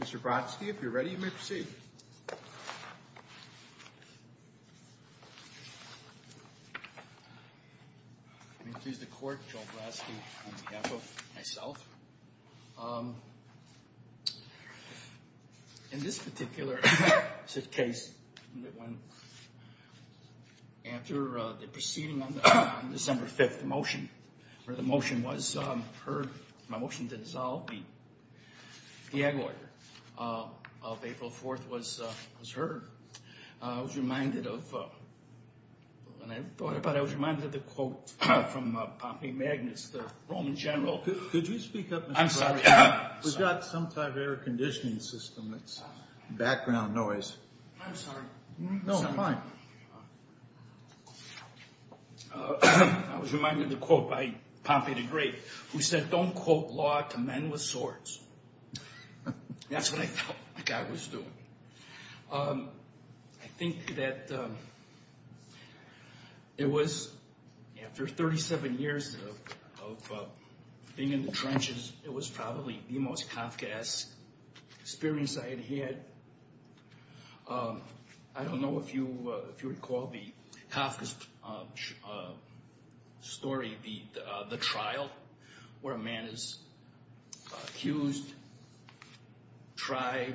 Mr. Brodsky, if you're ready, you may proceed. I'm pleased to court Joel Brodsky on behalf of myself. In this particular case, after the proceeding on December 5th, the motion was heard, my motion to dissolve the egg order of April 4th was heard. I was reminded of, when I thought about it, I was reminded of the quote from Pompey Magnus, the Roman general. Could you speak up, Mr. Brodsky? We've got some type of air conditioning system that's background noise. I'm sorry. No, I'm fine. I was reminded of the quote by Pompey the Great, who said, don't quote law to men with swords. That's what I felt like I was doing. I think that it was after 37 years of being in the trenches, it was probably the most Kafkaesque experience I had had. I don't know if you recall the Kafkaesque story, the trial, where a man is accused, tried,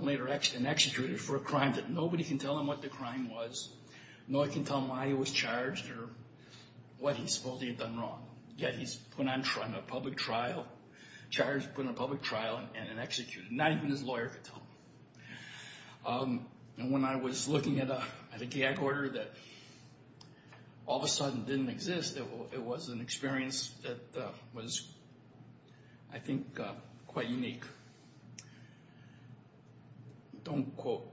later executed for a crime that nobody can tell him what the crime was, nor can tell him why he was charged or what he supposedly had done wrong. Yet he's put on a public trial, charged, put on a public trial, and then executed, not even his lawyer could tell him. And when I was looking at an egg order that all of a sudden didn't exist, it was an experience that was, I think, quite unique. Don't quote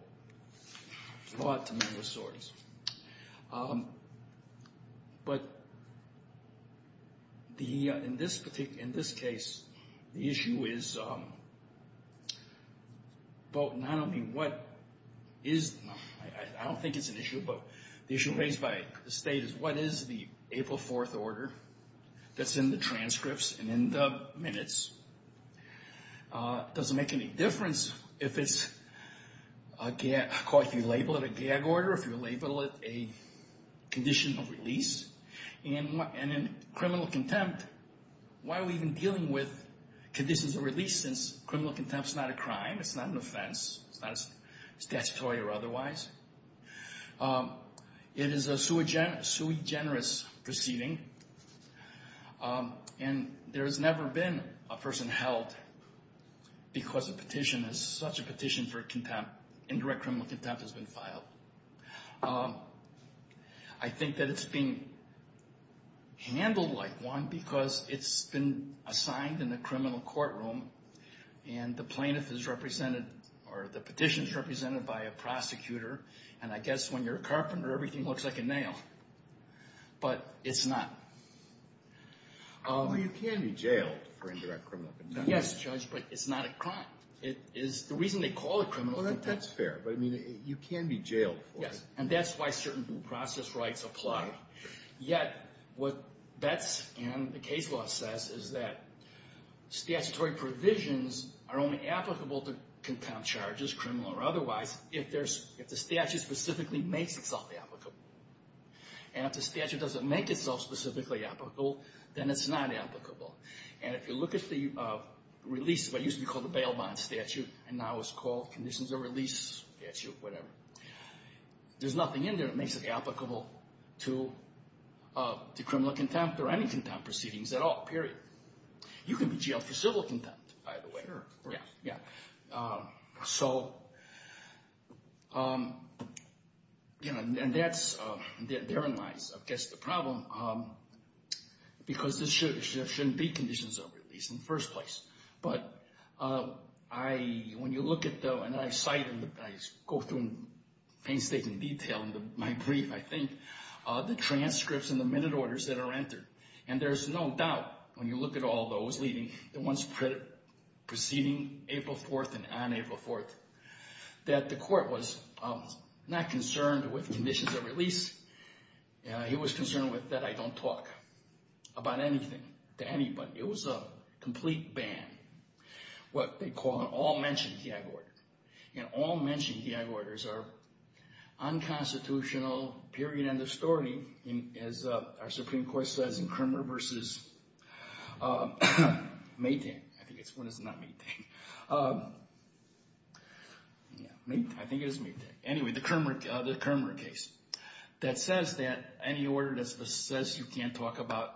law to men with swords. But in this case, the issue is not only what is, I don't think it's an issue, but the issue raised by the state is what is the April 4th order that's in the transcripts and in the minutes? Does it make any difference if it's, of course, you label it a gag order, if you label it a condition of release. And in criminal contempt, why are we even dealing with conditions of release since criminal contempt is not a crime, it's not an offense, it's not statutory or otherwise. It is a sui generis proceeding, and there has never been a person held because a petition is such a petition for contempt, indirect criminal contempt has been filed. I think that it's being handled like one because it's been assigned in the criminal courtroom, and the plaintiff is represented, or the petition is represented by a prosecutor, and I guess when you're a carpenter, everything looks like a nail. But it's not. Well, you can be jailed for indirect criminal contempt. Yes, Judge, but it's not a crime. The reason they call it criminal contempt. Well, that's fair, but you can be jailed for it. Yes, and that's why certain process rights apply. Yet, what Betts and the case law says is that statutory provisions are only applicable to contempt charges, criminal or otherwise, if the statute specifically makes itself applicable. And if the statute doesn't make itself specifically applicable, then it's not applicable. And if you look at the release, what used to be called the bail bond statute and now is called conditions of release statute, whatever, there's nothing in there that makes it applicable to criminal contempt or any contempt proceedings at all, period. You can be jailed for civil contempt, by the way. Sure. Yeah, yeah. So, you know, and that's, therein lies, I guess, the problem, because this shouldn't be conditions of release in the first place. But I, when you look at the, and I cite, and I go through painstaking detail in my brief, I think, the transcripts and the minute orders that are entered, and there's no doubt when you look at all those, leading, the ones preceding April 4th and on April 4th, that the court was not concerned with conditions of release. It was concerned with that I don't talk about anything to anybody. It was a complete ban. What they call an all-mention gag order. And all-mention gag orders are unconstitutional, period, end of story, as our Supreme Court says in Kramer v. Maytank. I think it's, when is it not Maytank? Yeah, Maytank, I think it is Maytank. Anyway, the Kramer case. That says that any order that says you can't talk about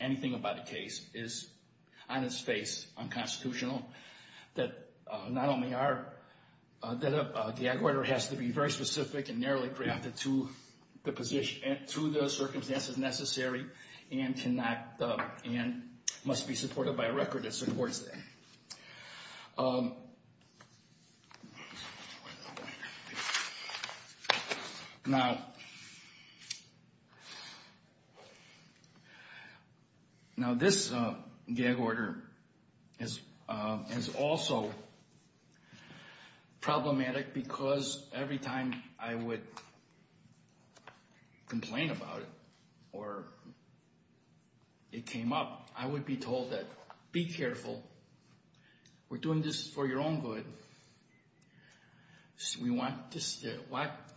anything about a case is, on its face, unconstitutional. That not only are, that a gag order has to be very specific and narrowly grafted to the circumstances necessary and cannot, and must be supported by a record that supports that. Now, this gag order is also problematic because every time I would complain about it, or it came up, I would be told that, be careful. We're doing this for your own good. We want,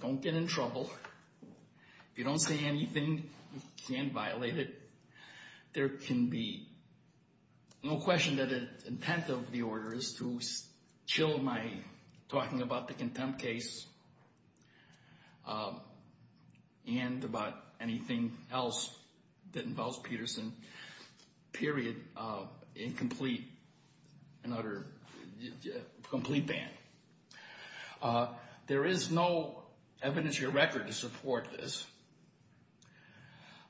don't get in trouble. If you don't say anything, you can't violate it. There can be no question that the intent of the order is to chill my talking about the contempt case and about anything else that involves Peterson, period, incomplete, another, complete ban. There is no evidence or record to support this.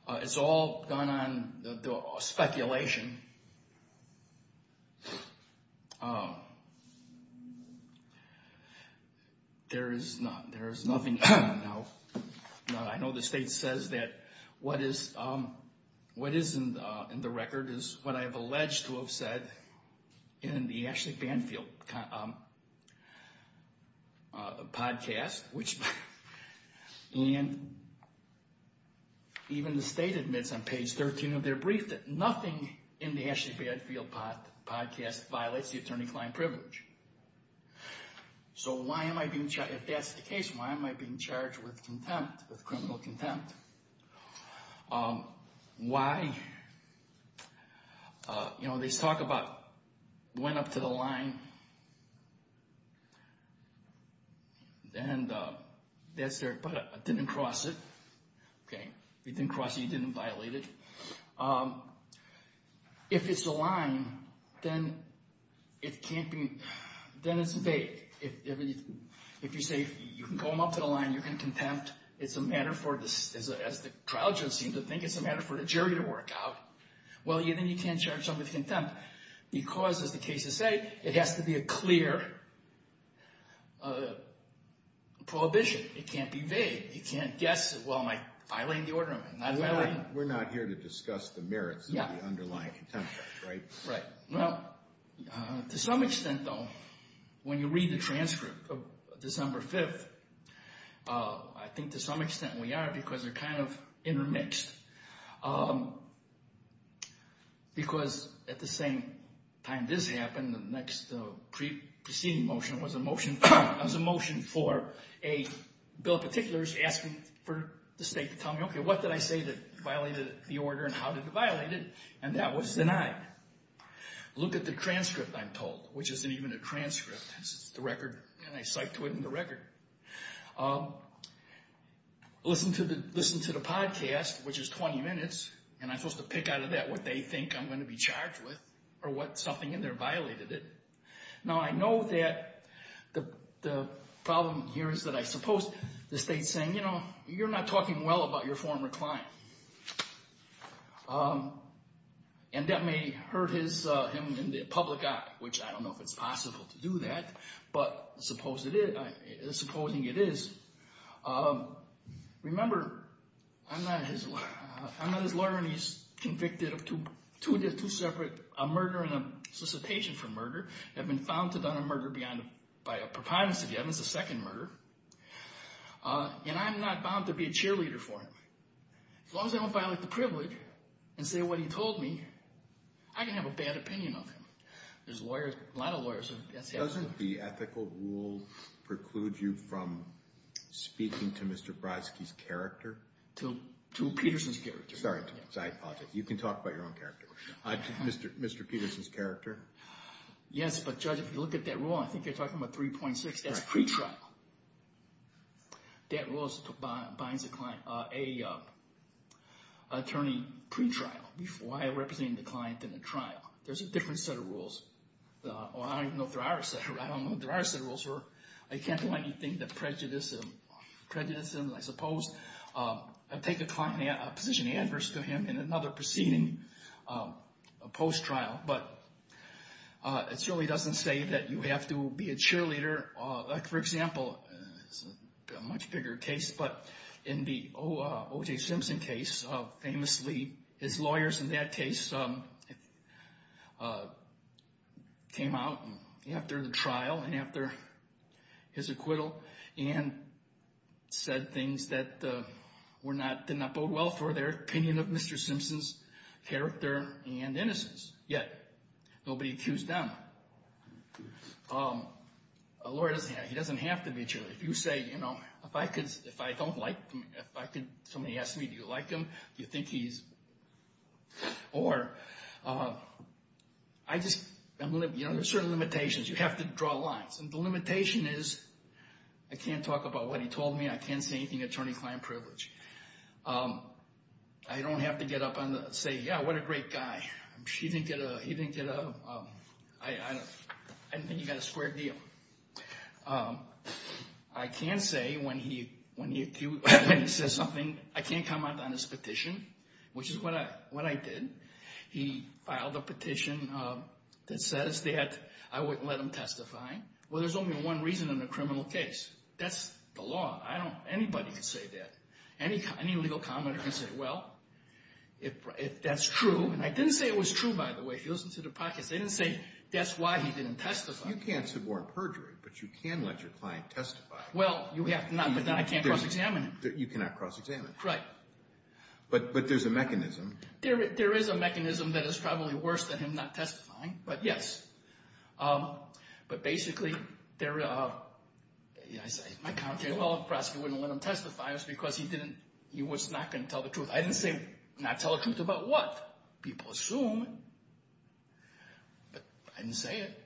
It's all gone on speculation. There is nothing, I know the state says that what is in the record is what I have alleged to have said in the Ashley Banfield podcast, and even the state admits on page 13 of their brief that nothing in the Ashley Banfield podcast violates the attorney-client privilege. So why am I being charged, if that's the case, why am I being charged with contempt, with criminal contempt? Why, you know, they talk about went up to the line, but didn't cross it, didn't cross it, didn't violate it. If it's the line, then it can't be, then it's fake. If you say you can go up to the line, you're going to contempt, it's a matter for, as the trial judge seemed to think, it's a matter for the jury to work out. Well, then you can't charge them with contempt because, as the cases say, it has to be a clear prohibition. It can't be vague. You can't guess, well, am I violating the order or am I not violating it? We're not here to discuss the merits of the underlying contempt case, right? Well, to some extent, though, when you read the transcript of December 5th, I think to some extent we are because they're kind of intermixed. Because at the same time this happened, the next pre-proceeding motion was a motion for a bill of particulars asking for the state to tell me, okay, what did I say that violated the order and how did it violate it? And that was denied. Look at the transcript, I'm told, which isn't even a transcript. This is the record, and I cite to it in the record. Listen to the podcast, which is 20 minutes, and I'm supposed to pick out of that what they think I'm going to be charged with or what something in there violated it. Now, I know that the problem here is that I suppose the state's saying, you know, you're not talking well about your former client. And that may hurt him in the public eye, which I don't know if it's possible to do that, but supposing it is. Remember, I'm not his lawyer, and he's convicted of two separate, a murder and a solicitation for murder, have been found to have done a murder by a preponderance of the evidence, a second murder. And I'm not bound to be a cheerleader for him. As long as I don't violate the privilege and say what he told me, I can have a bad opinion of him. There's lawyers, a lot of lawyers. Doesn't the ethical rule preclude you from speaking to Mr. Brzezinski's character? To Peterson's character. Sorry, I apologize. You can talk about your own character. Mr. Peterson's character? Yes, but judge, if you look at that rule, I think you're talking about 3.6, that's pretrial. That rule binds a client, an attorney pretrial. Why are you representing the client in a trial? There's a different set of rules. I don't even know if there are a set of rules. I don't know if there are a set of rules where I can't do anything that prejudices him. I suppose I'd take a client, a position adverse to him in another proceeding post-trial, but it certainly doesn't say that you have to be a cheerleader. For example, a much bigger case, but in the O.J. Simpson case, famously, his lawyers in that case came out after the trial and after his acquittal and said things that did not bode well for their opinion of Mr. Simpson's character and innocence. Yet, nobody accused them. A lawyer, he doesn't have to be a cheerleader. If you say, you know, if I don't like him, if somebody asks me, do you like him? Do you think he's, or I just, you know, there's certain limitations. You have to draw lines, and the limitation is I can't talk about what he told me. I can't say anything attorney-client privilege. I don't have to get up and say, yeah, what a great guy. He didn't get a, I didn't think he got a square deal. I can say when he says something, I can't comment on his petition, which is what I did. He filed a petition that says that I wouldn't let him testify. Well, there's only one reason in a criminal case. That's the law. I don't, anybody can say that. Any legal comment, I can say, well, if that's true, and I didn't say it was true, by the way. If you listen to the pockets, they didn't say that's why he didn't testify. You can't suborn perjury, but you can let your client testify. Well, you have to not, but then I can't cross-examine him. You cannot cross-examine him. Right. But there's a mechanism. There is a mechanism that is probably worse than him not testifying, but yes. But basically, my comment is, well, of course, he wouldn't let him testify. It was because he didn't, he was not going to tell the truth. I didn't say, not tell the truth about what? People assume, but I didn't say it.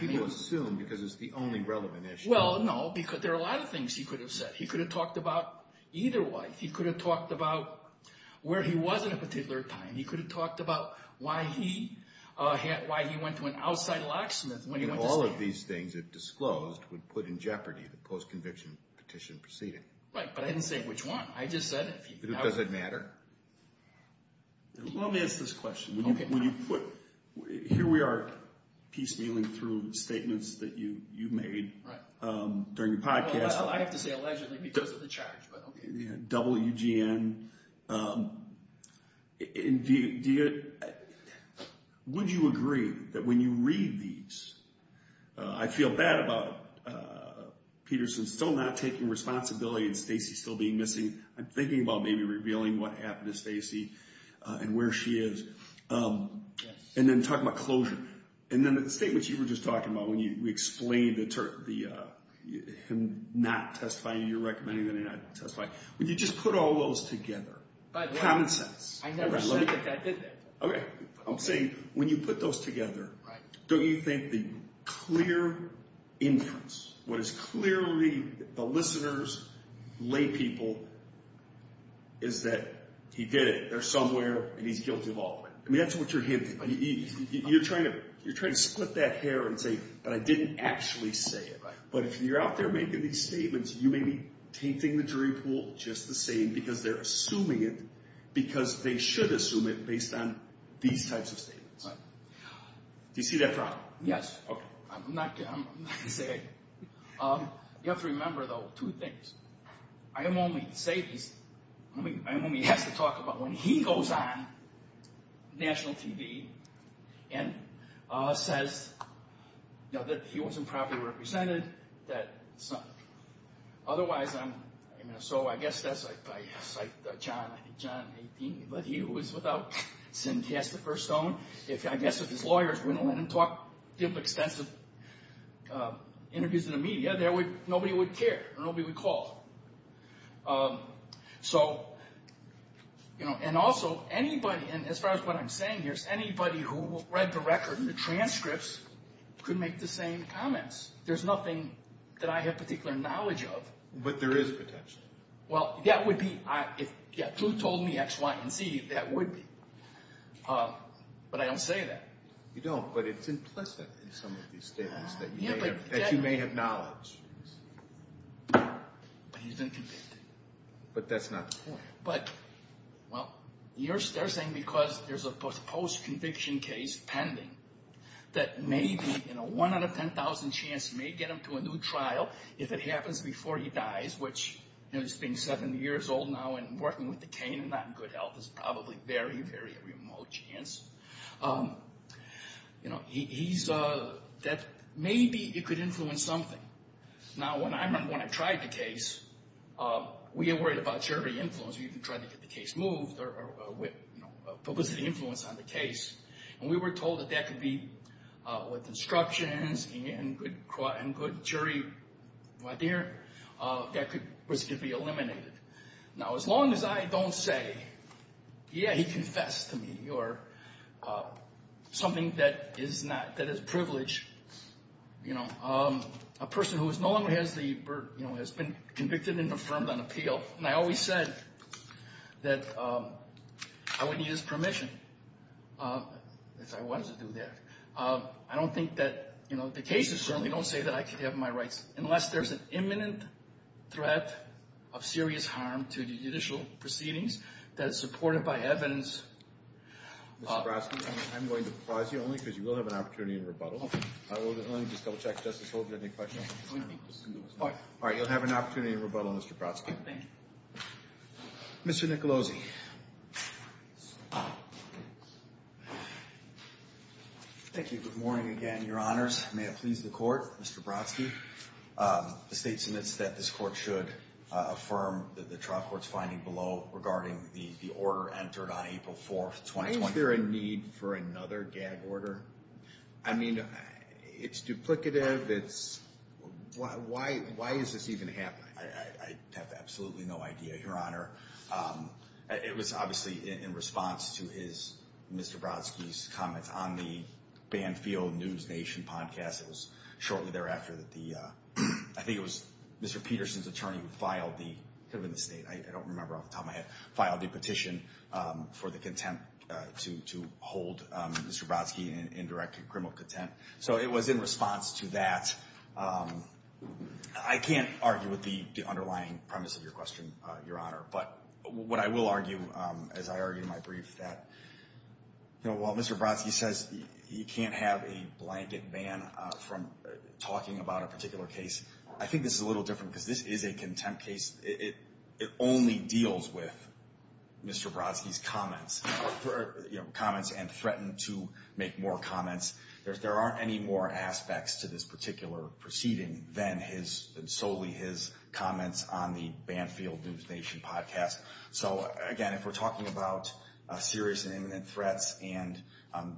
People assume because it's the only relevant issue. Well, no, because there are a lot of things he could have said. He could have talked about either wife. He could have talked about where he was at a particular time. He could have talked about why he went to an outside locksmith. All of these things, if disclosed, would put in jeopardy the post-conviction petition proceeding. Right, but I didn't say which one. Does it matter? Let me ask this question. Here we are piecemealing through statements that you made during your podcast. I have to say allegedly because of the charge, but okay. WGN. Would you agree that when you read these, I feel bad about Peterson still not taking responsibility and Stacey still being missing. I'm thinking about maybe revealing what happened to Stacey and where she is. And then talk about closure. And then the statement you were just talking about when you explained him not testifying, you're recommending that he not testify. Would you just put all those together? Common sense. I never said that I did that. Okay, I'm saying when you put those together, don't you think the clear inference, what is clearly the listeners, lay people, is that he did it. They're somewhere and he's guilty of all of it. That's what you're hinting. You're trying to split that hair and say, but I didn't actually say it. But if you're out there making these statements, you may be tainting the jury pool just the same because they're assuming it because they should assume it based on these types of statements. Do you see that problem? Yes. I'm not going to say anything. You have to remember, though, two things. I am only safe, I'm only asked to talk about when he goes on national TV and says that he wasn't properly represented. Otherwise, so I guess that's like John 18, but he was without sin cast the first stone. I guess if his lawyers wouldn't let him talk, give extensive interviews in the media, nobody would care, nobody would call. So, you know, and also anybody, and as far as what I'm saying here, anybody who read the record and the transcripts could make the same comments. There's nothing that I have particular knowledge of. But there is potential. Well, that would be, if you told me X, Y, and Z, that would be. But I don't say that. You don't, but it's implicit in some of these statements that you may have knowledge. But he's been convicted. But that's not the point. But, well, they're saying because there's a post-conviction case pending that maybe in a 1 out of 10,000 chance you may get him to a new trial if it happens before he dies, which, you know, he's being 70 years old now and working with the cane and not in good health is probably very, very remote chance. You know, he's, that maybe it could influence something. Now, when I tried the case, we were worried about jury influence. We even tried to get the case moved or, you know, publicity influence on the case. And we were told that that could be, with instructions and good jury, my dear, that could be eliminated. Now, as long as I don't say, yeah, he confessed to me or something that is not, that is privileged, you know, a person who no longer has the, you know, has been convicted and affirmed on appeal. And I always said that I wouldn't use permission if I wanted to do that. I don't think that, you know, the cases certainly don't say that I could have my rights unless there's an imminent threat of serious harm to the judicial proceedings that is supported by evidence. Mr. Brodsky, I'm going to pause you only because you will have an opportunity to rebuttal. Let me just double-check. Justice Holder, any questions? All right, you'll have an opportunity to rebuttal, Mr. Brodsky. Thank you. Mr. Nicolosi. Thank you. Good morning again, Your Honors. May it please the Court, Mr. Brodsky. The State submits that this Court should affirm the trial court's finding below regarding the order entered on April 4th, 2023. Why is there a need for another gag order? I mean, it's duplicative. Why is this even happening? I have absolutely no idea, Your Honor. It was obviously in response to Mr. Brodsky's comments on the Banfield News Nation podcast shortly thereafter. I think it was Mr. Peterson's attorney who filed the petition for the contempt to hold Mr. Brodsky in direct criminal contempt. So it was in response to that. I can't argue with the underlying premise of your question, Your Honor. But what I will argue, as I argue in my brief, that while Mr. Brodsky says you can't have a blanket ban from talking about a particular case, I think this is a little different because this is a contempt case. It only deals with Mr. Brodsky's comments and threatened to make more comments. There aren't any more aspects to this particular proceeding than solely his comments on the Banfield News Nation podcast. So, again, if we're talking about serious and imminent threats and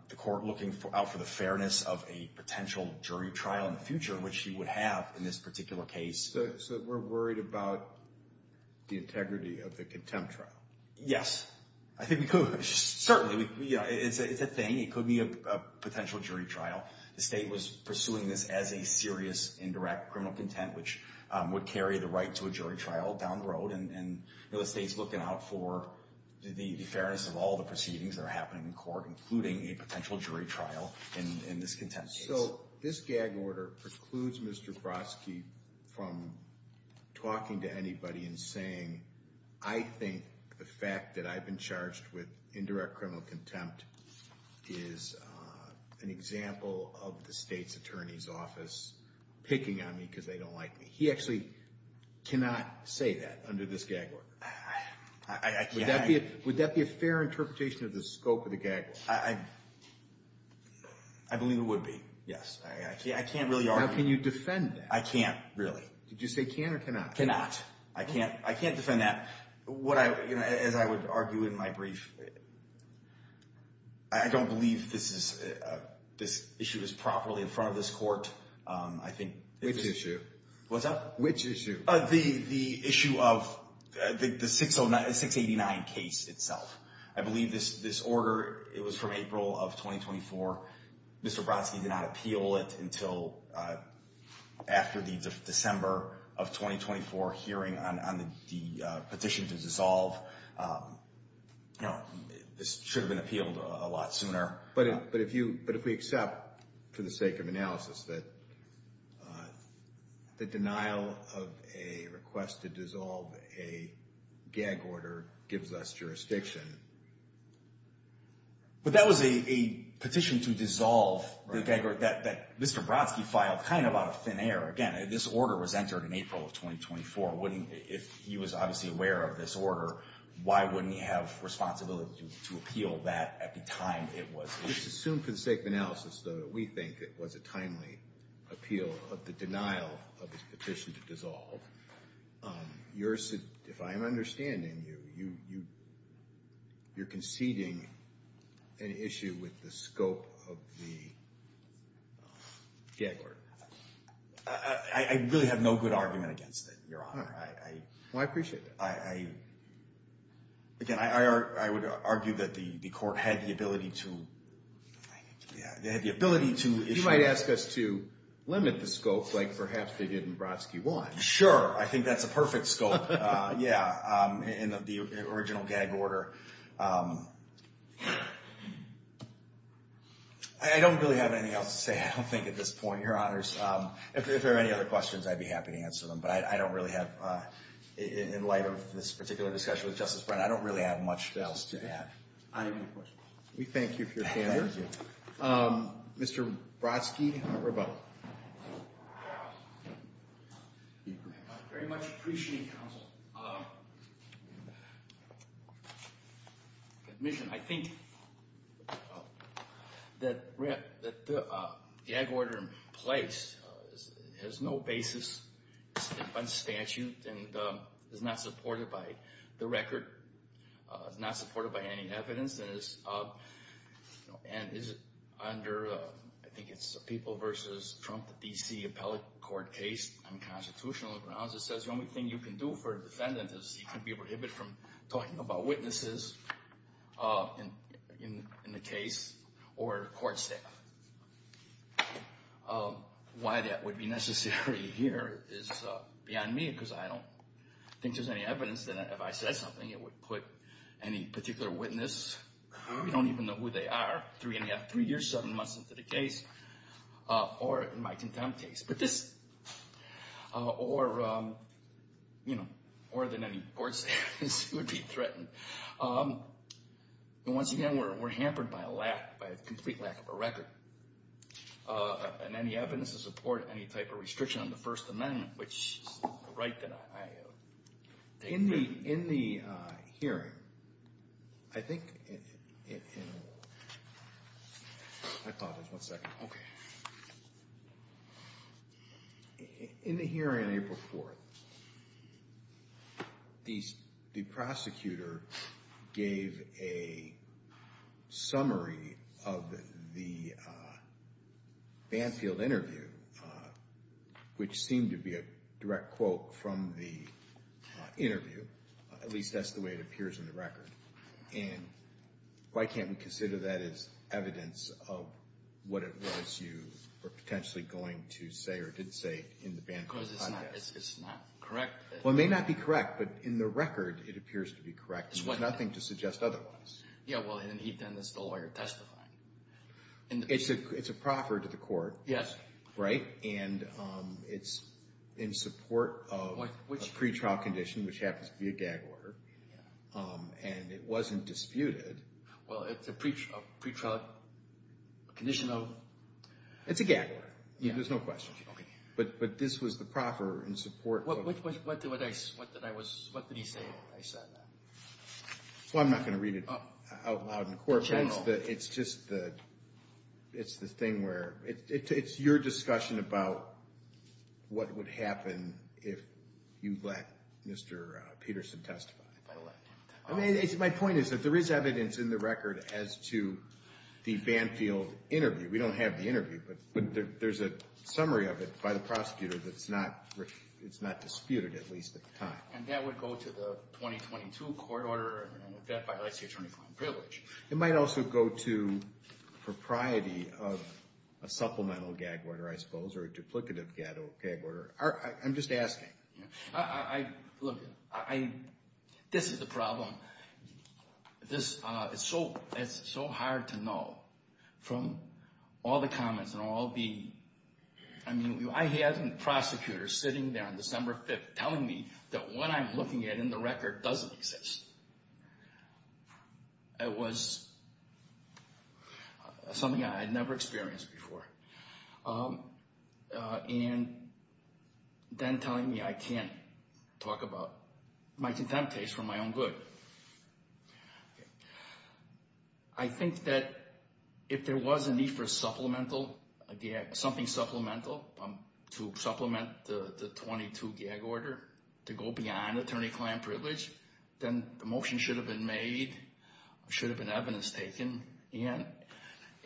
the court looking out for the fairness of a potential jury trial in the future, which he would have in this particular case. So we're worried about the integrity of the contempt trial? Yes. I think we could. Certainly. It's a thing. It could be a potential jury trial. The state was pursuing this as a serious indirect criminal contempt, which would carry the right to a jury trial down the road. And the state's looking out for the fairness of all the proceedings that are happening in court, including a potential jury trial in this contempt case. So this gag order precludes Mr. Brodsky from talking to anybody and saying, I think the fact that I've been charged with indirect criminal contempt is an example of the state's attorney's office picking on me because they don't like me. He actually cannot say that under this gag order. Would that be a fair interpretation of the scope of the gag order? I believe it would be, yes. I can't really argue. How can you defend that? I can't, really. Did you say can or cannot? Cannot. I can't defend that. As I would argue in my brief, I don't believe this issue is properly in front of this court. Which issue? What's that? Which issue? The issue of the 689 case itself. I believe this order, it was from April of 2024. Mr. Brodsky did not appeal it until after the December of 2024 hearing on the petition to dissolve. This should have been appealed a lot sooner. But if we accept, for the sake of analysis, that the denial of a request to dissolve a gag order gives us jurisdiction. But that was a petition to dissolve the gag order that Mr. Brodsky filed kind of out of thin air. Again, this order was entered in April of 2024. If he was obviously aware of this order, why wouldn't he have responsibility to appeal that at the time it was issued? Just assume for the sake of analysis that we think it was a timely appeal of the denial of his petition to dissolve. If I'm understanding you, you're conceding an issue with the scope of the gag order. I really have no good argument against it, Your Honor. Well, I appreciate that. Again, I would argue that the court had the ability to issue it. You might ask us to limit the scope, like perhaps they did in Brodsky 1. Sure, I think that's a perfect scope, yeah, in the original gag order. I don't really have anything else to say, I don't think, at this point, Your Honors. If there are any other questions, I'd be happy to answer them. But I don't really have, in light of this particular discussion with Justice Brennan, I don't really have much else to add. I have a question. We thank you for your time. Thank you. Mr. Brodsky, you have a rebuttal. I very much appreciate counsel's admission. I think that the gag order in place has no basis on statute and is not supported by the record, is not supported by any evidence, and is under, I think it's a people versus Trump, the D.C. appellate court case on constitutional grounds. It says the only thing you can do for a defendant is he can be prohibited from talking about witnesses in the case or court staff. Why that would be necessary here is beyond me because I don't think there's any evidence that if I said something, it would put any particular witness, we don't even know who they are, three and a half, three years, seven months into the case, or in my contempt case. But this, or, you know, more than any court status, would be threatened. And once again, we're hampered by a lack, by a complete lack of a record. And any evidence to support any type of restriction on the First Amendment, which is the right that I take. In the hearing, I think, I apologize, one second. In the hearing on April 4th, the prosecutor gave a summary of the Banfield interview, which seemed to be a direct quote from the interview, at least that's the way it appears in the record. And why can't we consider that as evidence of what it was you were potentially going to say or didn't say in the Banfield podcast? Because it's not correct. Well, it may not be correct, but in the record, it appears to be correct. There's nothing to suggest otherwise. Yeah, well, and he then is the lawyer testifying. It's a proffer to the court. Yes. Right? And it's in support of a pretrial condition, which happens to be a gag order. And it wasn't disputed. Well, it's a pretrial condition of? It's a gag order. There's no question. Okay. But this was the proffer in support of. What did he say when he said that? Well, I'm not going to read it out loud in court. In general? No, it's just the thing where it's your discussion about what would happen if you let Mr. Peterson testify. I mean, my point is that there is evidence in the record as to the Banfield interview. We don't have the interview, but there's a summary of it by the prosecutor that's not disputed, at least at the time. And that would go to the 2022 court order, and that violates the attorney-file privilege. It might also go to propriety of a supplemental gag order, I suppose, or a duplicative gag order. I'm just asking. Look, this is the problem. It's so hard to know from all the comments and all the – I mean, I had a prosecutor sitting there on December 5th telling me that what I'm looking at in the record doesn't exist. It was something I had never experienced before. And then telling me I can't talk about my contempt case for my own good. I think that if there was a need for something supplemental to supplement the 2022 gag order to go beyond attorney-client privilege, then the motion should have been made, should have been evidence taken. And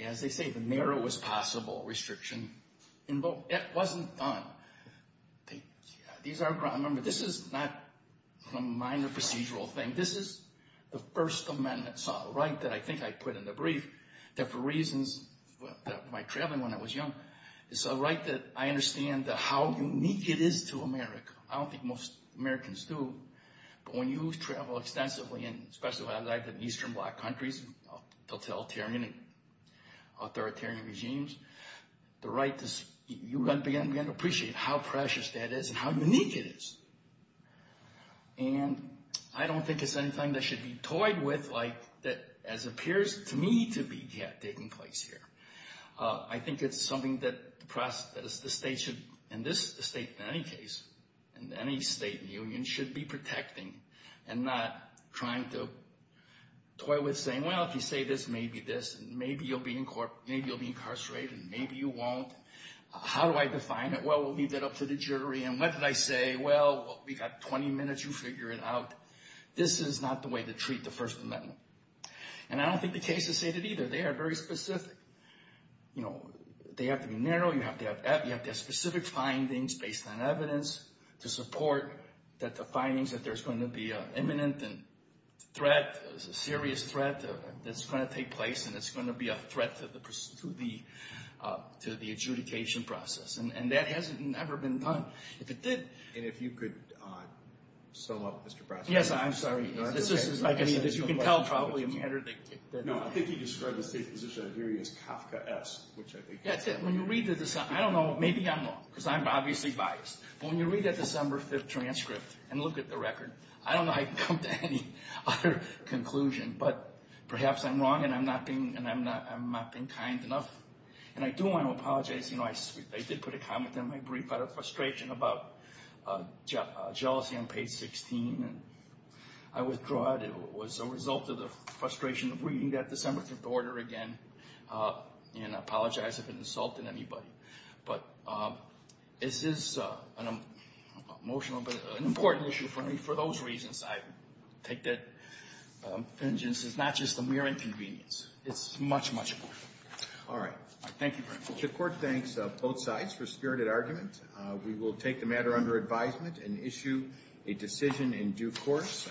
as they say, the narrowest possible restriction in both – it wasn't done. These are – remember, this is not a minor procedural thing. This is the First Amendment right that I think I put in the brief that for reasons – my traveling when I was young, it's a right that I understand how unique it is to America. I don't think most Americans do. But when you travel extensively, and especially when I've been in Eastern Black countries, totalitarian and authoritarian regimes, the right to – you're going to begin to appreciate how precious that is and how unique it is. And I don't think it's anything that should be toyed with like that as appears to me to be taking place here. I think it's something that the state should – and this state, in any case, and any state and union should be protecting and not trying to toy with saying, well, if you say this, maybe this. And maybe you'll be incarcerated. Maybe you won't. How do I define it? Well, we'll leave that up to the jury. And what did I say? Well, we've got 20 minutes. You figure it out. This is not the way to treat the First Amendment. And I don't think the cases say that either. They are very specific. They have to be narrow. You have to have specific findings based on evidence to support that the findings that there's going to be an imminent threat, a serious threat that's going to take place, and it's going to be a threat to the adjudication process. And that hasn't ever been done. If it did – And if you could sum up, Mr. Brasco. Yes, I'm sorry. This is, I believe, as you can tell, probably a matter that – No, I think you described the state position of the jury as Kafka-esque, which I think – That's it. When you read the – I don't know. Maybe I'm wrong because I'm obviously biased. But when you read that December 5th transcript and look at the record, I don't know how you can come to any other conclusion. But perhaps I'm wrong and I'm not being kind enough. And I do want to apologize. You know, I did put a comment in my brief out of frustration about jealousy on page 16, and I withdraw it. It was a result of the frustration of reading that December 5th order again, and I apologize if it insulted anybody. But this is an emotional – an important issue for me for those reasons. I take that vengeance as not just a mere inconvenience. It's much, much more. All right. Thank you very much. The court thanks both sides for spirited argument. We will take the matter under advisement and issue a decision in due course.